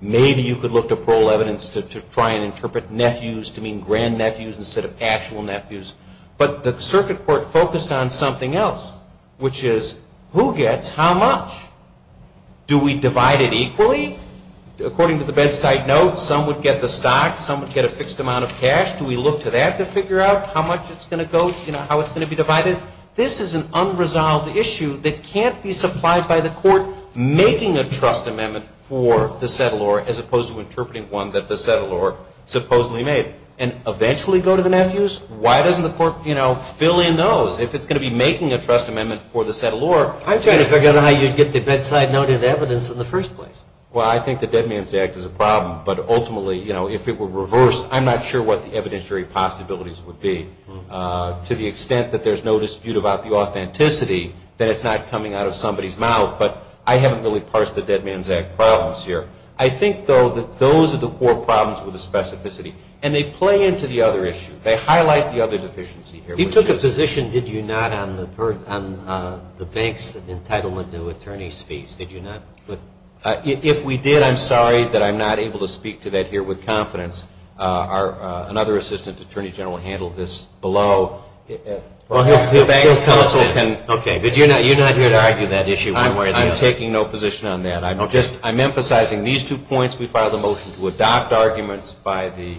Maybe you could look to parole evidence to try and interpret nephews to mean grandnephews instead of actual nephews. But the circuit court focused on something else, which is who gets how much? Do we divide it equally? According to the bedside note, some would get the stock, some would get a fixed amount of cash. Do we look to that to figure out how much it's going to go, how it's going to be divided? This is an unresolved issue that can't be supplied by the court making a trust amendment for the settlor as opposed to interpreting one that the settlor supposedly made and eventually go to the nephews. Why doesn't the court fill in those if it's going to be making a trust amendment for the settlor? I'm trying to figure out how you'd get the bedside note of evidence in the first place. Well, I think the Dead Man's Act is a problem. But ultimately, you know, if it were reversed, I'm not sure what the evidentiary possibilities would be to the extent that there's no dispute about the authenticity that it's not coming out of somebody's mouth. But I haven't really parsed the Dead Man's Act problems here. I think, though, that those are the core problems with the specificity. And they play into the other issue. They highlight the other deficiency here. You took a position, did you not, on the bank's entitlement to attorney's fees? Did you not? If we did, I'm sorry that I'm not able to speak to that here with confidence. Another assistant attorney general handled this below. If the bank's counsel can. Okay, but you're not here to argue that issue one way or the other. I'm taking no position on that. I'm emphasizing these two points. We filed a motion to adopt arguments by the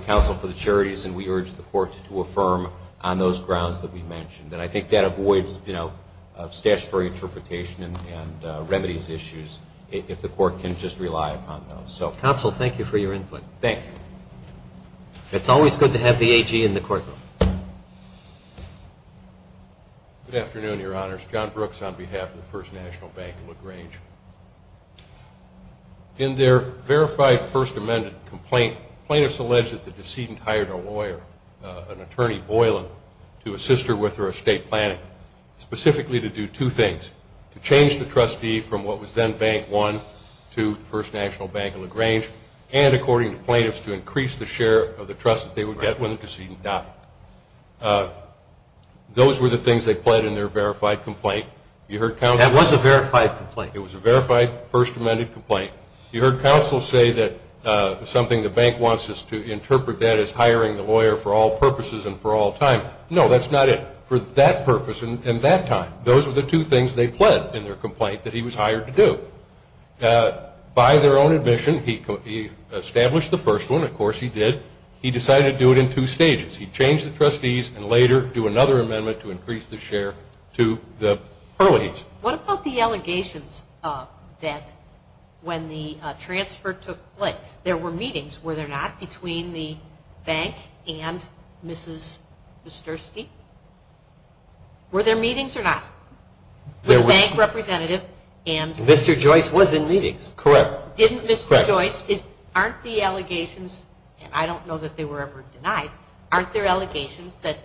counsel for the juries, and we urge the court to affirm on those grounds that we mentioned. And I think that avoids statutory interpretation and remedies issues if the court can just rely upon those. Counsel, thank you for your input. Thank you. It's always good to have the AG in the courtroom. Good afternoon, Your Honors. John Brooks on behalf of the First National Bank of LaGrange. In their verified First Amendment complaint, plaintiffs allege that the decedent hired a lawyer, an attorney Boylan, to assist her with her estate planning, specifically to do two things, to change the trustee from what was then Bank One to First National Bank of LaGrange, and according to plaintiffs, to increase the share of the trust that they would get when the decedent died. Those were the things they pled in their verified complaint. You heard counsel? That was a verified complaint. It was a verified First Amendment complaint. You heard counsel say that something the bank wants is to interpret that as hiring the lawyer for all purposes and for all time. No, that's not it. For that purpose and that time, those were the two things they pled in their complaint that he was hired to do. By their own admission, he established the first one. Of course, he did. He decided to do it in two stages. He changed the trustees and later do another amendment to increase the share to the Hurleys. Judge, what about the allegations that when the transfer took place, there were meetings, were there not, between the bank and Mrs. Wisterski? Were there meetings or not? The bank representative and Mr. Joyce was in meetings. Correct. Didn't Mr. Joyce? Correct. Aren't the allegations, and I don't know that they were ever denied, aren't there allegations that,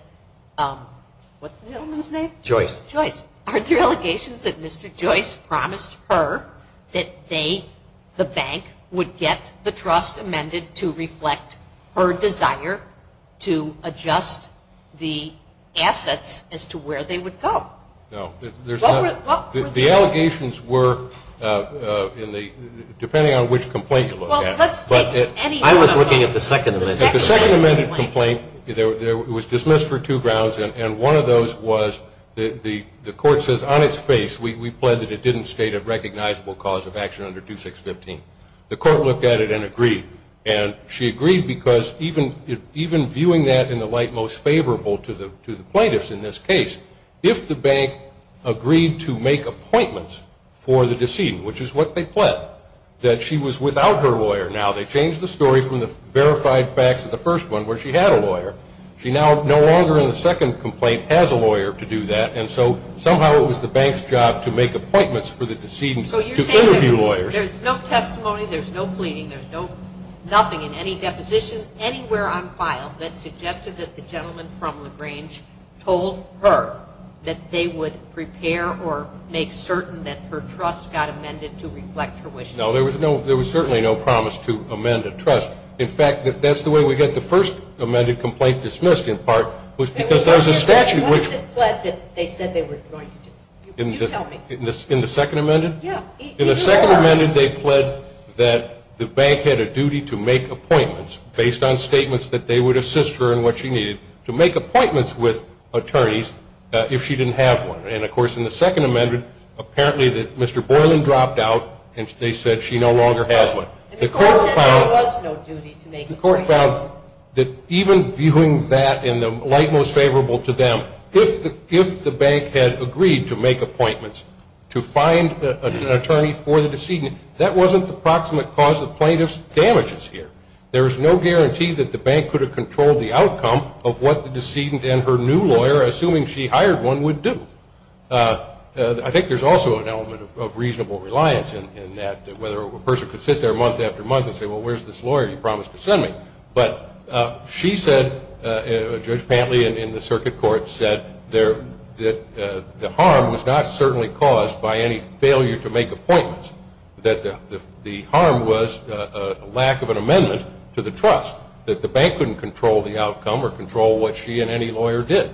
what's the gentleman's name? Joyce. Joyce. Aren't there allegations that Mr. Joyce promised her that they, the bank, would get the trust amended to reflect her desire to adjust the assets as to where they would go? No. The allegations were, depending on which complaint you look at. I was looking at the second amendment. The second amended complaint, it was dismissed for two grounds, and one of those was the court says on its face, we plead that it didn't state a recognizable cause of action under 2615. The court looked at it and agreed. And she agreed because even viewing that in the light most favorable to the plaintiffs in this case, if the bank agreed to make appointments for the decedent, which is what they pled, that she was without her lawyer. Now, they changed the story from the verified facts of the first one where she had a lawyer. She now no longer in the second complaint has a lawyer to do that, and so somehow it was the bank's job to make appointments for the decedent to interview lawyers. So you're saying there's no testimony, there's no pleading, there's nothing in any deposition anywhere on file that suggested that the gentleman from LaGrange told her that they would prepare or make certain that her trust got amended to reflect her wishes? No, there was certainly no promise to amend a trust. In fact, that's the way we get the first amended complaint dismissed, in part, was because there was a statute. What is it pled that they said they were going to do? You tell me. In the second amended? Yeah. In the second amended, they pled that the bank had a duty to make appointments based on statements that they would assist her in what she needed to make appointments with attorneys if she didn't have one. And, of course, in the second amended, apparently Mr. Boylan dropped out and they said she no longer has one. The court found that even viewing that in the light most favorable to them, if the bank had agreed to make appointments to find an attorney for the decedent, that wasn't the proximate cause of plaintiff's damages here. There is no guarantee that the bank could have controlled the outcome of what the decedent and her new lawyer, assuming she hired one, would do. I think there's also an element of reasonable reliance in that, whether a person could sit there month after month and say, well, where's this lawyer you promised to send me? But she said, Judge Pantley in the circuit court said, that the harm was not certainly caused by any failure to make appointments, that the harm was a lack of an amendment to the trust, that the bank couldn't control the outcome or control what she and any lawyer did.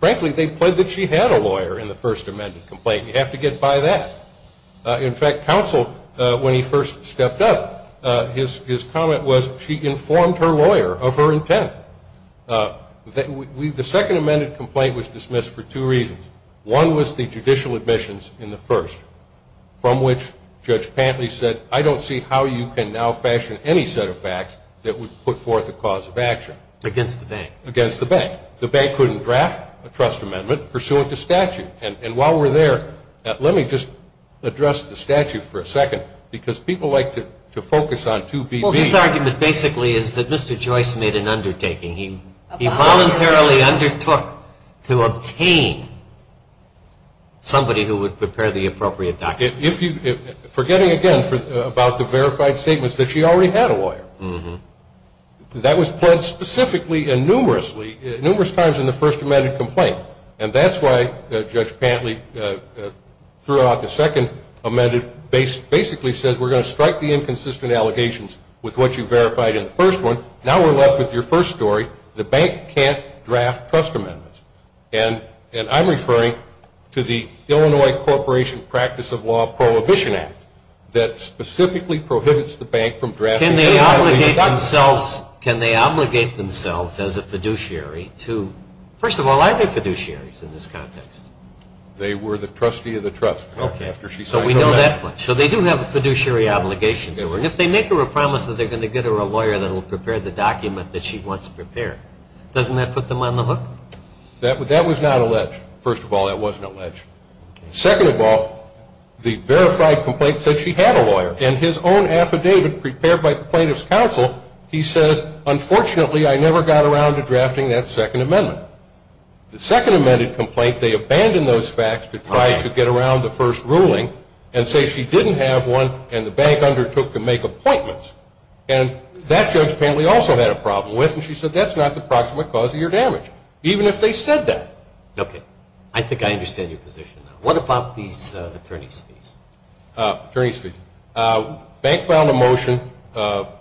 Frankly, they pled that she had a lawyer in the first amended complaint. You have to get by that. In fact, counsel, when he first stepped up, his comment was, she informed her lawyer of her intent. The second amended complaint was dismissed for two reasons. One was the judicial admissions in the first, from which Judge Pantley said, I don't see how you can now fashion any set of facts that would put forth a cause of action. Against the bank. Against the bank. The bank couldn't draft a trust amendment pursuant to statute. And while we're there, let me just address the statute for a second, because people like to focus on 2BB. Well, his argument basically is that Mr. Joyce made an undertaking. He voluntarily undertook to obtain somebody who would prepare the appropriate document. Forgetting, again, about the verified statements, that she already had a lawyer. That was pled specifically and numerous times in the first amended complaint. And that's why Judge Pantley throughout the second amended basically says, we're going to strike the inconsistent allegations with what you verified in the first one. Now we're left with your first story. The bank can't draft trust amendments. And I'm referring to the Illinois Corporation Practice of Law Prohibition Act that specifically prohibits the bank from drafting any kind of legal document. Can they obligate themselves as a fiduciary to – first of all, are they fiduciaries in this context? They were the trustee of the trust after she signed her letter. So we know that. So they do have a fiduciary obligation to her. And if they make her a promise that they're going to get her a lawyer that will prepare the document that she wants prepared, doesn't that put them on the hook? That was not alleged. First of all, that wasn't alleged. Second of all, the verified complaint said she had a lawyer. And his own affidavit prepared by the plaintiff's counsel, he says, unfortunately I never got around to drafting that second amendment. The second amended complaint, they abandon those facts to try to get around the first ruling and say she didn't have one and the bank undertook to make appointments. And that Judge Pantley also had a problem with, and she said, that's not the proximate cause of your damage, even if they said that. Okay. I think I understand your position now. What about these attorney's fees? Attorney's fees. Bank filed a motion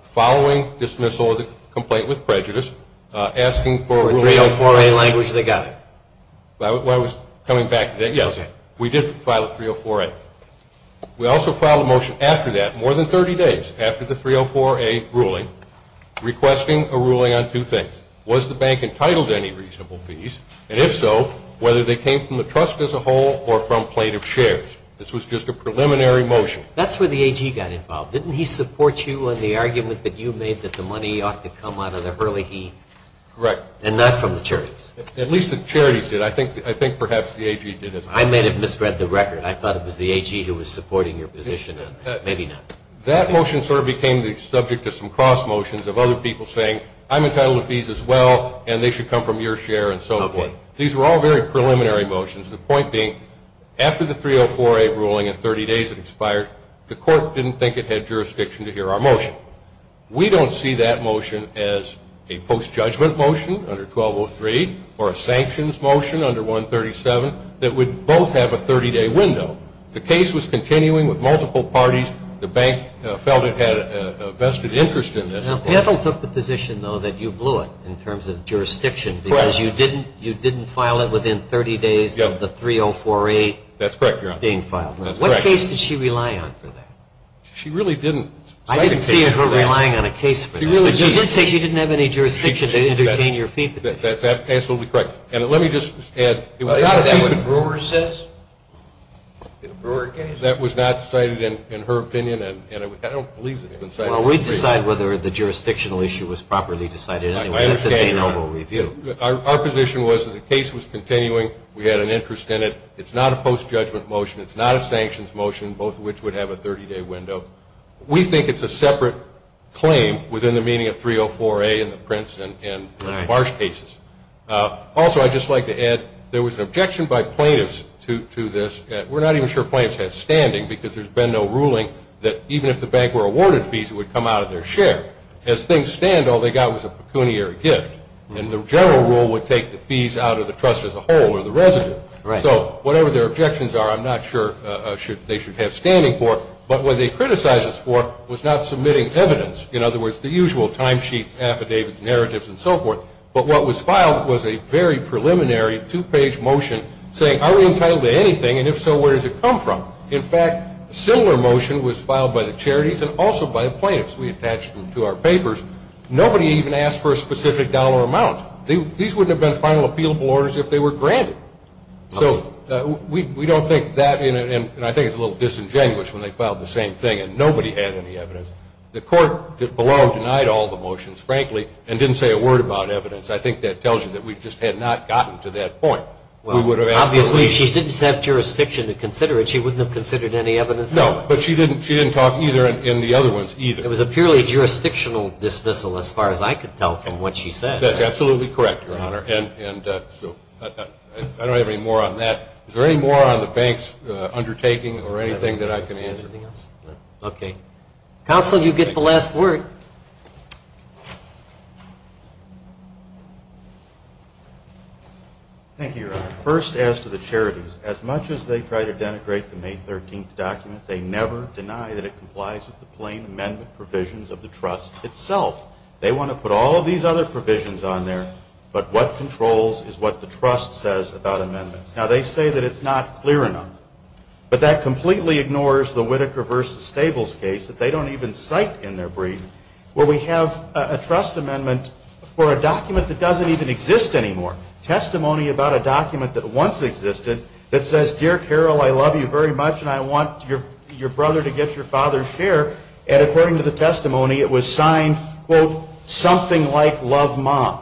following dismissal of the complaint with prejudice asking for a ruling. In 304A language, they got it. I was coming back to that. Yes. We did file a 304A. We also filed a motion after that, more than 30 days after the 304A ruling, requesting a ruling on two things. Was the bank entitled to any reasonable fees? And if so, whether they came from the trust as a whole or from plaintiff's shares. This was just a preliminary motion. That's where the AG got involved. Didn't he support you in the argument that you made that the money ought to come out of the Hurley Heed? Correct. And not from the charities? At least the charities did. I think perhaps the AG did as well. I may have misread the record. I thought it was the AG who was supporting your position. Maybe not. That motion sort of became the subject of some cross motions of other people saying, I'm entitled to fees as well and they should come from your share and so forth. These were all very preliminary motions. The point being, after the 304A ruling and 30 days it expired, the court didn't think it had jurisdiction to hear our motion. We don't see that motion as a post-judgment motion under 1203 or a sanctions motion under 137 that would both have a 30-day window. The case was continuing with multiple parties. The bank felt it had a vested interest in this. The panel took the position, though, that you blew it in terms of jurisdiction because you didn't file it within 30 days of the 304A being filed. That's correct, Your Honor. What case did she rely on for that? She really didn't cite a case for that. I didn't see her relying on a case for that. But she did say she didn't have any jurisdiction to entertain your feedback. That's absolutely correct. And let me just add it was not a case. Isn't that what Brewer says? That was not cited in her opinion and I don't believe it's been cited. Well, we decide whether the jurisdictional issue was properly decided. That's at the noble review. Our position was that the case was continuing. We had an interest in it. It's not a post-judgment motion. It's not a sanctions motion, both of which would have a 30-day window. We think it's a separate claim within the meaning of 304A in the Prince and Marsh cases. Also, I'd just like to add there was an objection by plaintiffs to this. We're not even sure plaintiffs had standing because there's been no ruling that even if the bank were awarded fees, it would come out of their share. As things stand, all they got was a pecuniary gift, and the general rule would take the fees out of the trust as a whole or the resident. So whatever their objections are, I'm not sure they should have standing for. But what they criticized us for was not submitting evidence, in other words, the usual timesheets, affidavits, narratives, and so forth. But what was filed was a very preliminary two-page motion saying are we entitled to anything, and if so, where does it come from? In fact, a similar motion was filed by the charities and also by the plaintiffs. We attached them to our papers. Nobody even asked for a specific dollar amount. These wouldn't have been final appealable orders if they were granted. So we don't think that, and I think it's a little disingenuous when they filed the same thing and nobody had any evidence. The court below denied all the motions, frankly, and didn't say a word about evidence. I think that tells you that we just had not gotten to that point. Obviously, if she didn't have jurisdiction to consider it, she wouldn't have considered any evidence. No, but she didn't talk either in the other ones either. It was a purely jurisdictional dismissal as far as I could tell from what she said. That's absolutely correct, Your Honor. I don't have any more on that. Is there any more on the bank's undertaking or anything that I can answer? Okay. Counsel, you get the last word. First, as to the charities, as much as they try to denigrate the May 13th document, they never deny that it complies with the plain amendment provisions of the trust itself. They want to put all of these other provisions on there, but what controls is what the trust says about amendments. Now, they say that it's not clear enough, but that completely ignores the Whitaker v. Stables case that they don't even cite in their brief where we have a trust amendment for a document that doesn't even exist anymore. Testimony about a document that once existed that says, Dear Carol, I love you very much and I want your brother to get your father's share. And according to the testimony, it was signed, quote, something like love mom.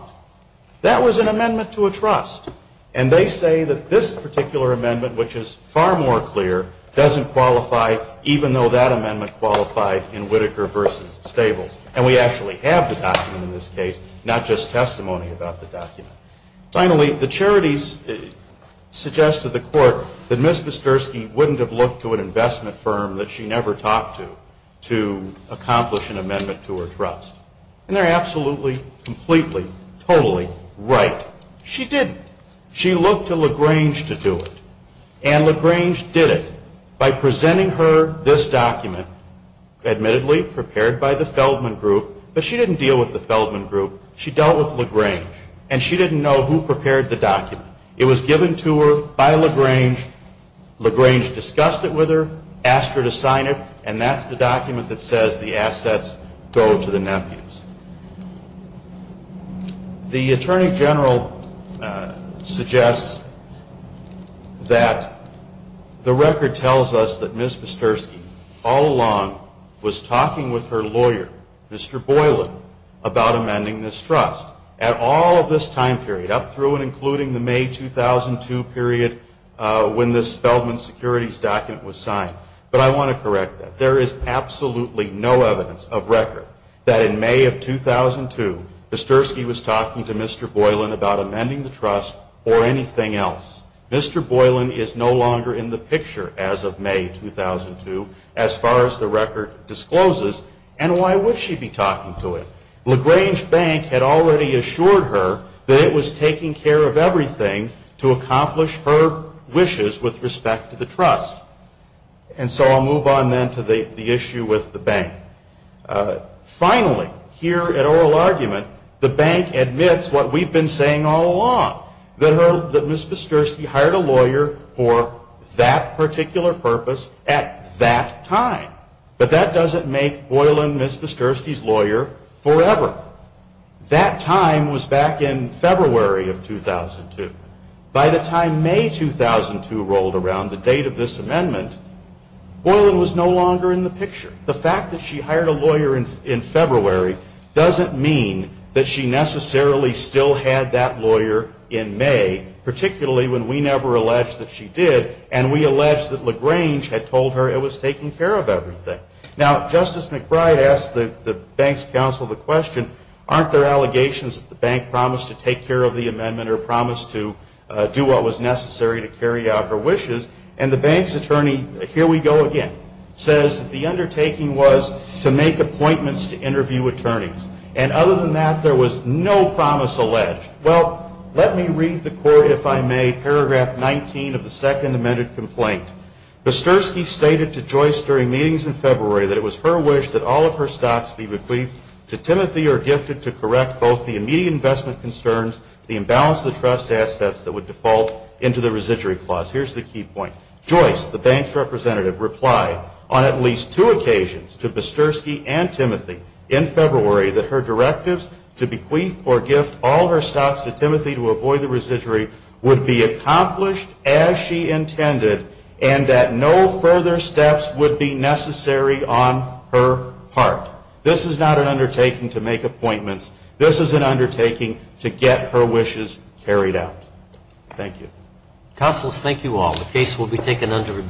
That was an amendment to a trust. And they say that this particular amendment, which is far more clear, doesn't qualify even though that amendment qualified in Whitaker v. Stables. And we actually have the document in this case, not just testimony about the document. Finally, the charities suggest to the court that Ms. Pastersky wouldn't have looked to an investment firm that she never talked to to accomplish an amendment to her trust. And they're absolutely, completely, totally right. She didn't. She looked to LaGrange to do it, and LaGrange did it by presenting her this document, admittedly prepared by the Feldman Group, but she didn't deal with the Feldman Group. She dealt with LaGrange, and she didn't know who prepared the document. It was given to her by LaGrange. LaGrange discussed it with her, asked her to sign it, and that's the document that says the assets go to the nephews. The Attorney General suggests that the record tells us that Ms. Pastersky all along was talking with her lawyer, Mr. Boylan, about amending this trust at all of this time period, up through and including the May 2002 period when this Feldman Securities document was signed. But I want to correct that. There is absolutely no evidence of record that in May of 2002, Ms. Pastersky was talking to Mr. Boylan about amending the trust or anything else. Mr. Boylan is no longer in the picture as of May 2002 as far as the record discloses, and why would she be talking to him? LaGrange Bank had already assured her that it was taking care of everything to accomplish her wishes with respect to the trust. And so I'll move on then to the issue with the bank. Finally, here at oral argument, the bank admits what we've been saying all along, that Ms. Pastersky hired a lawyer for that particular purpose at that time. But that doesn't make Boylan Ms. Pastersky's lawyer forever. That time was back in February of 2002. By the time May 2002 rolled around, the date of this amendment, Boylan was no longer in the picture. The fact that she hired a lawyer in February doesn't mean that she necessarily still had that lawyer in May, particularly when we never alleged that she did, and we alleged that LaGrange had told her it was taking care of everything. Now, Justice McBride asked the bank's counsel the question, aren't there allegations that the bank promised to take care of the amendment or promised to do what was necessary to carry out her wishes? And the bank's attorney, here we go again, says the undertaking was to make appointments to interview attorneys. And other than that, there was no promise alleged. Well, let me read the court, if I may, paragraph 19 of the second amended complaint. Pastersky stated to Joyce during meetings in February that it was her wish that all of her stocks be bequeathed to Timothy or gifted to correct both the immediate investment concerns, the imbalance of the trust assets that would default into the residuary clause. Here's the key point. Joyce, the bank's representative, replied on at least two occasions to Pastersky and Timothy in February that her directives to bequeath or gift all her stocks to Timothy to avoid the residuary would be accomplished as she intended and that no further steps would be necessary on her part. This is not an undertaking to make appointments. This is an undertaking to get her wishes carried out. Thank you. Counsels, thank you all. The case will be taken under review.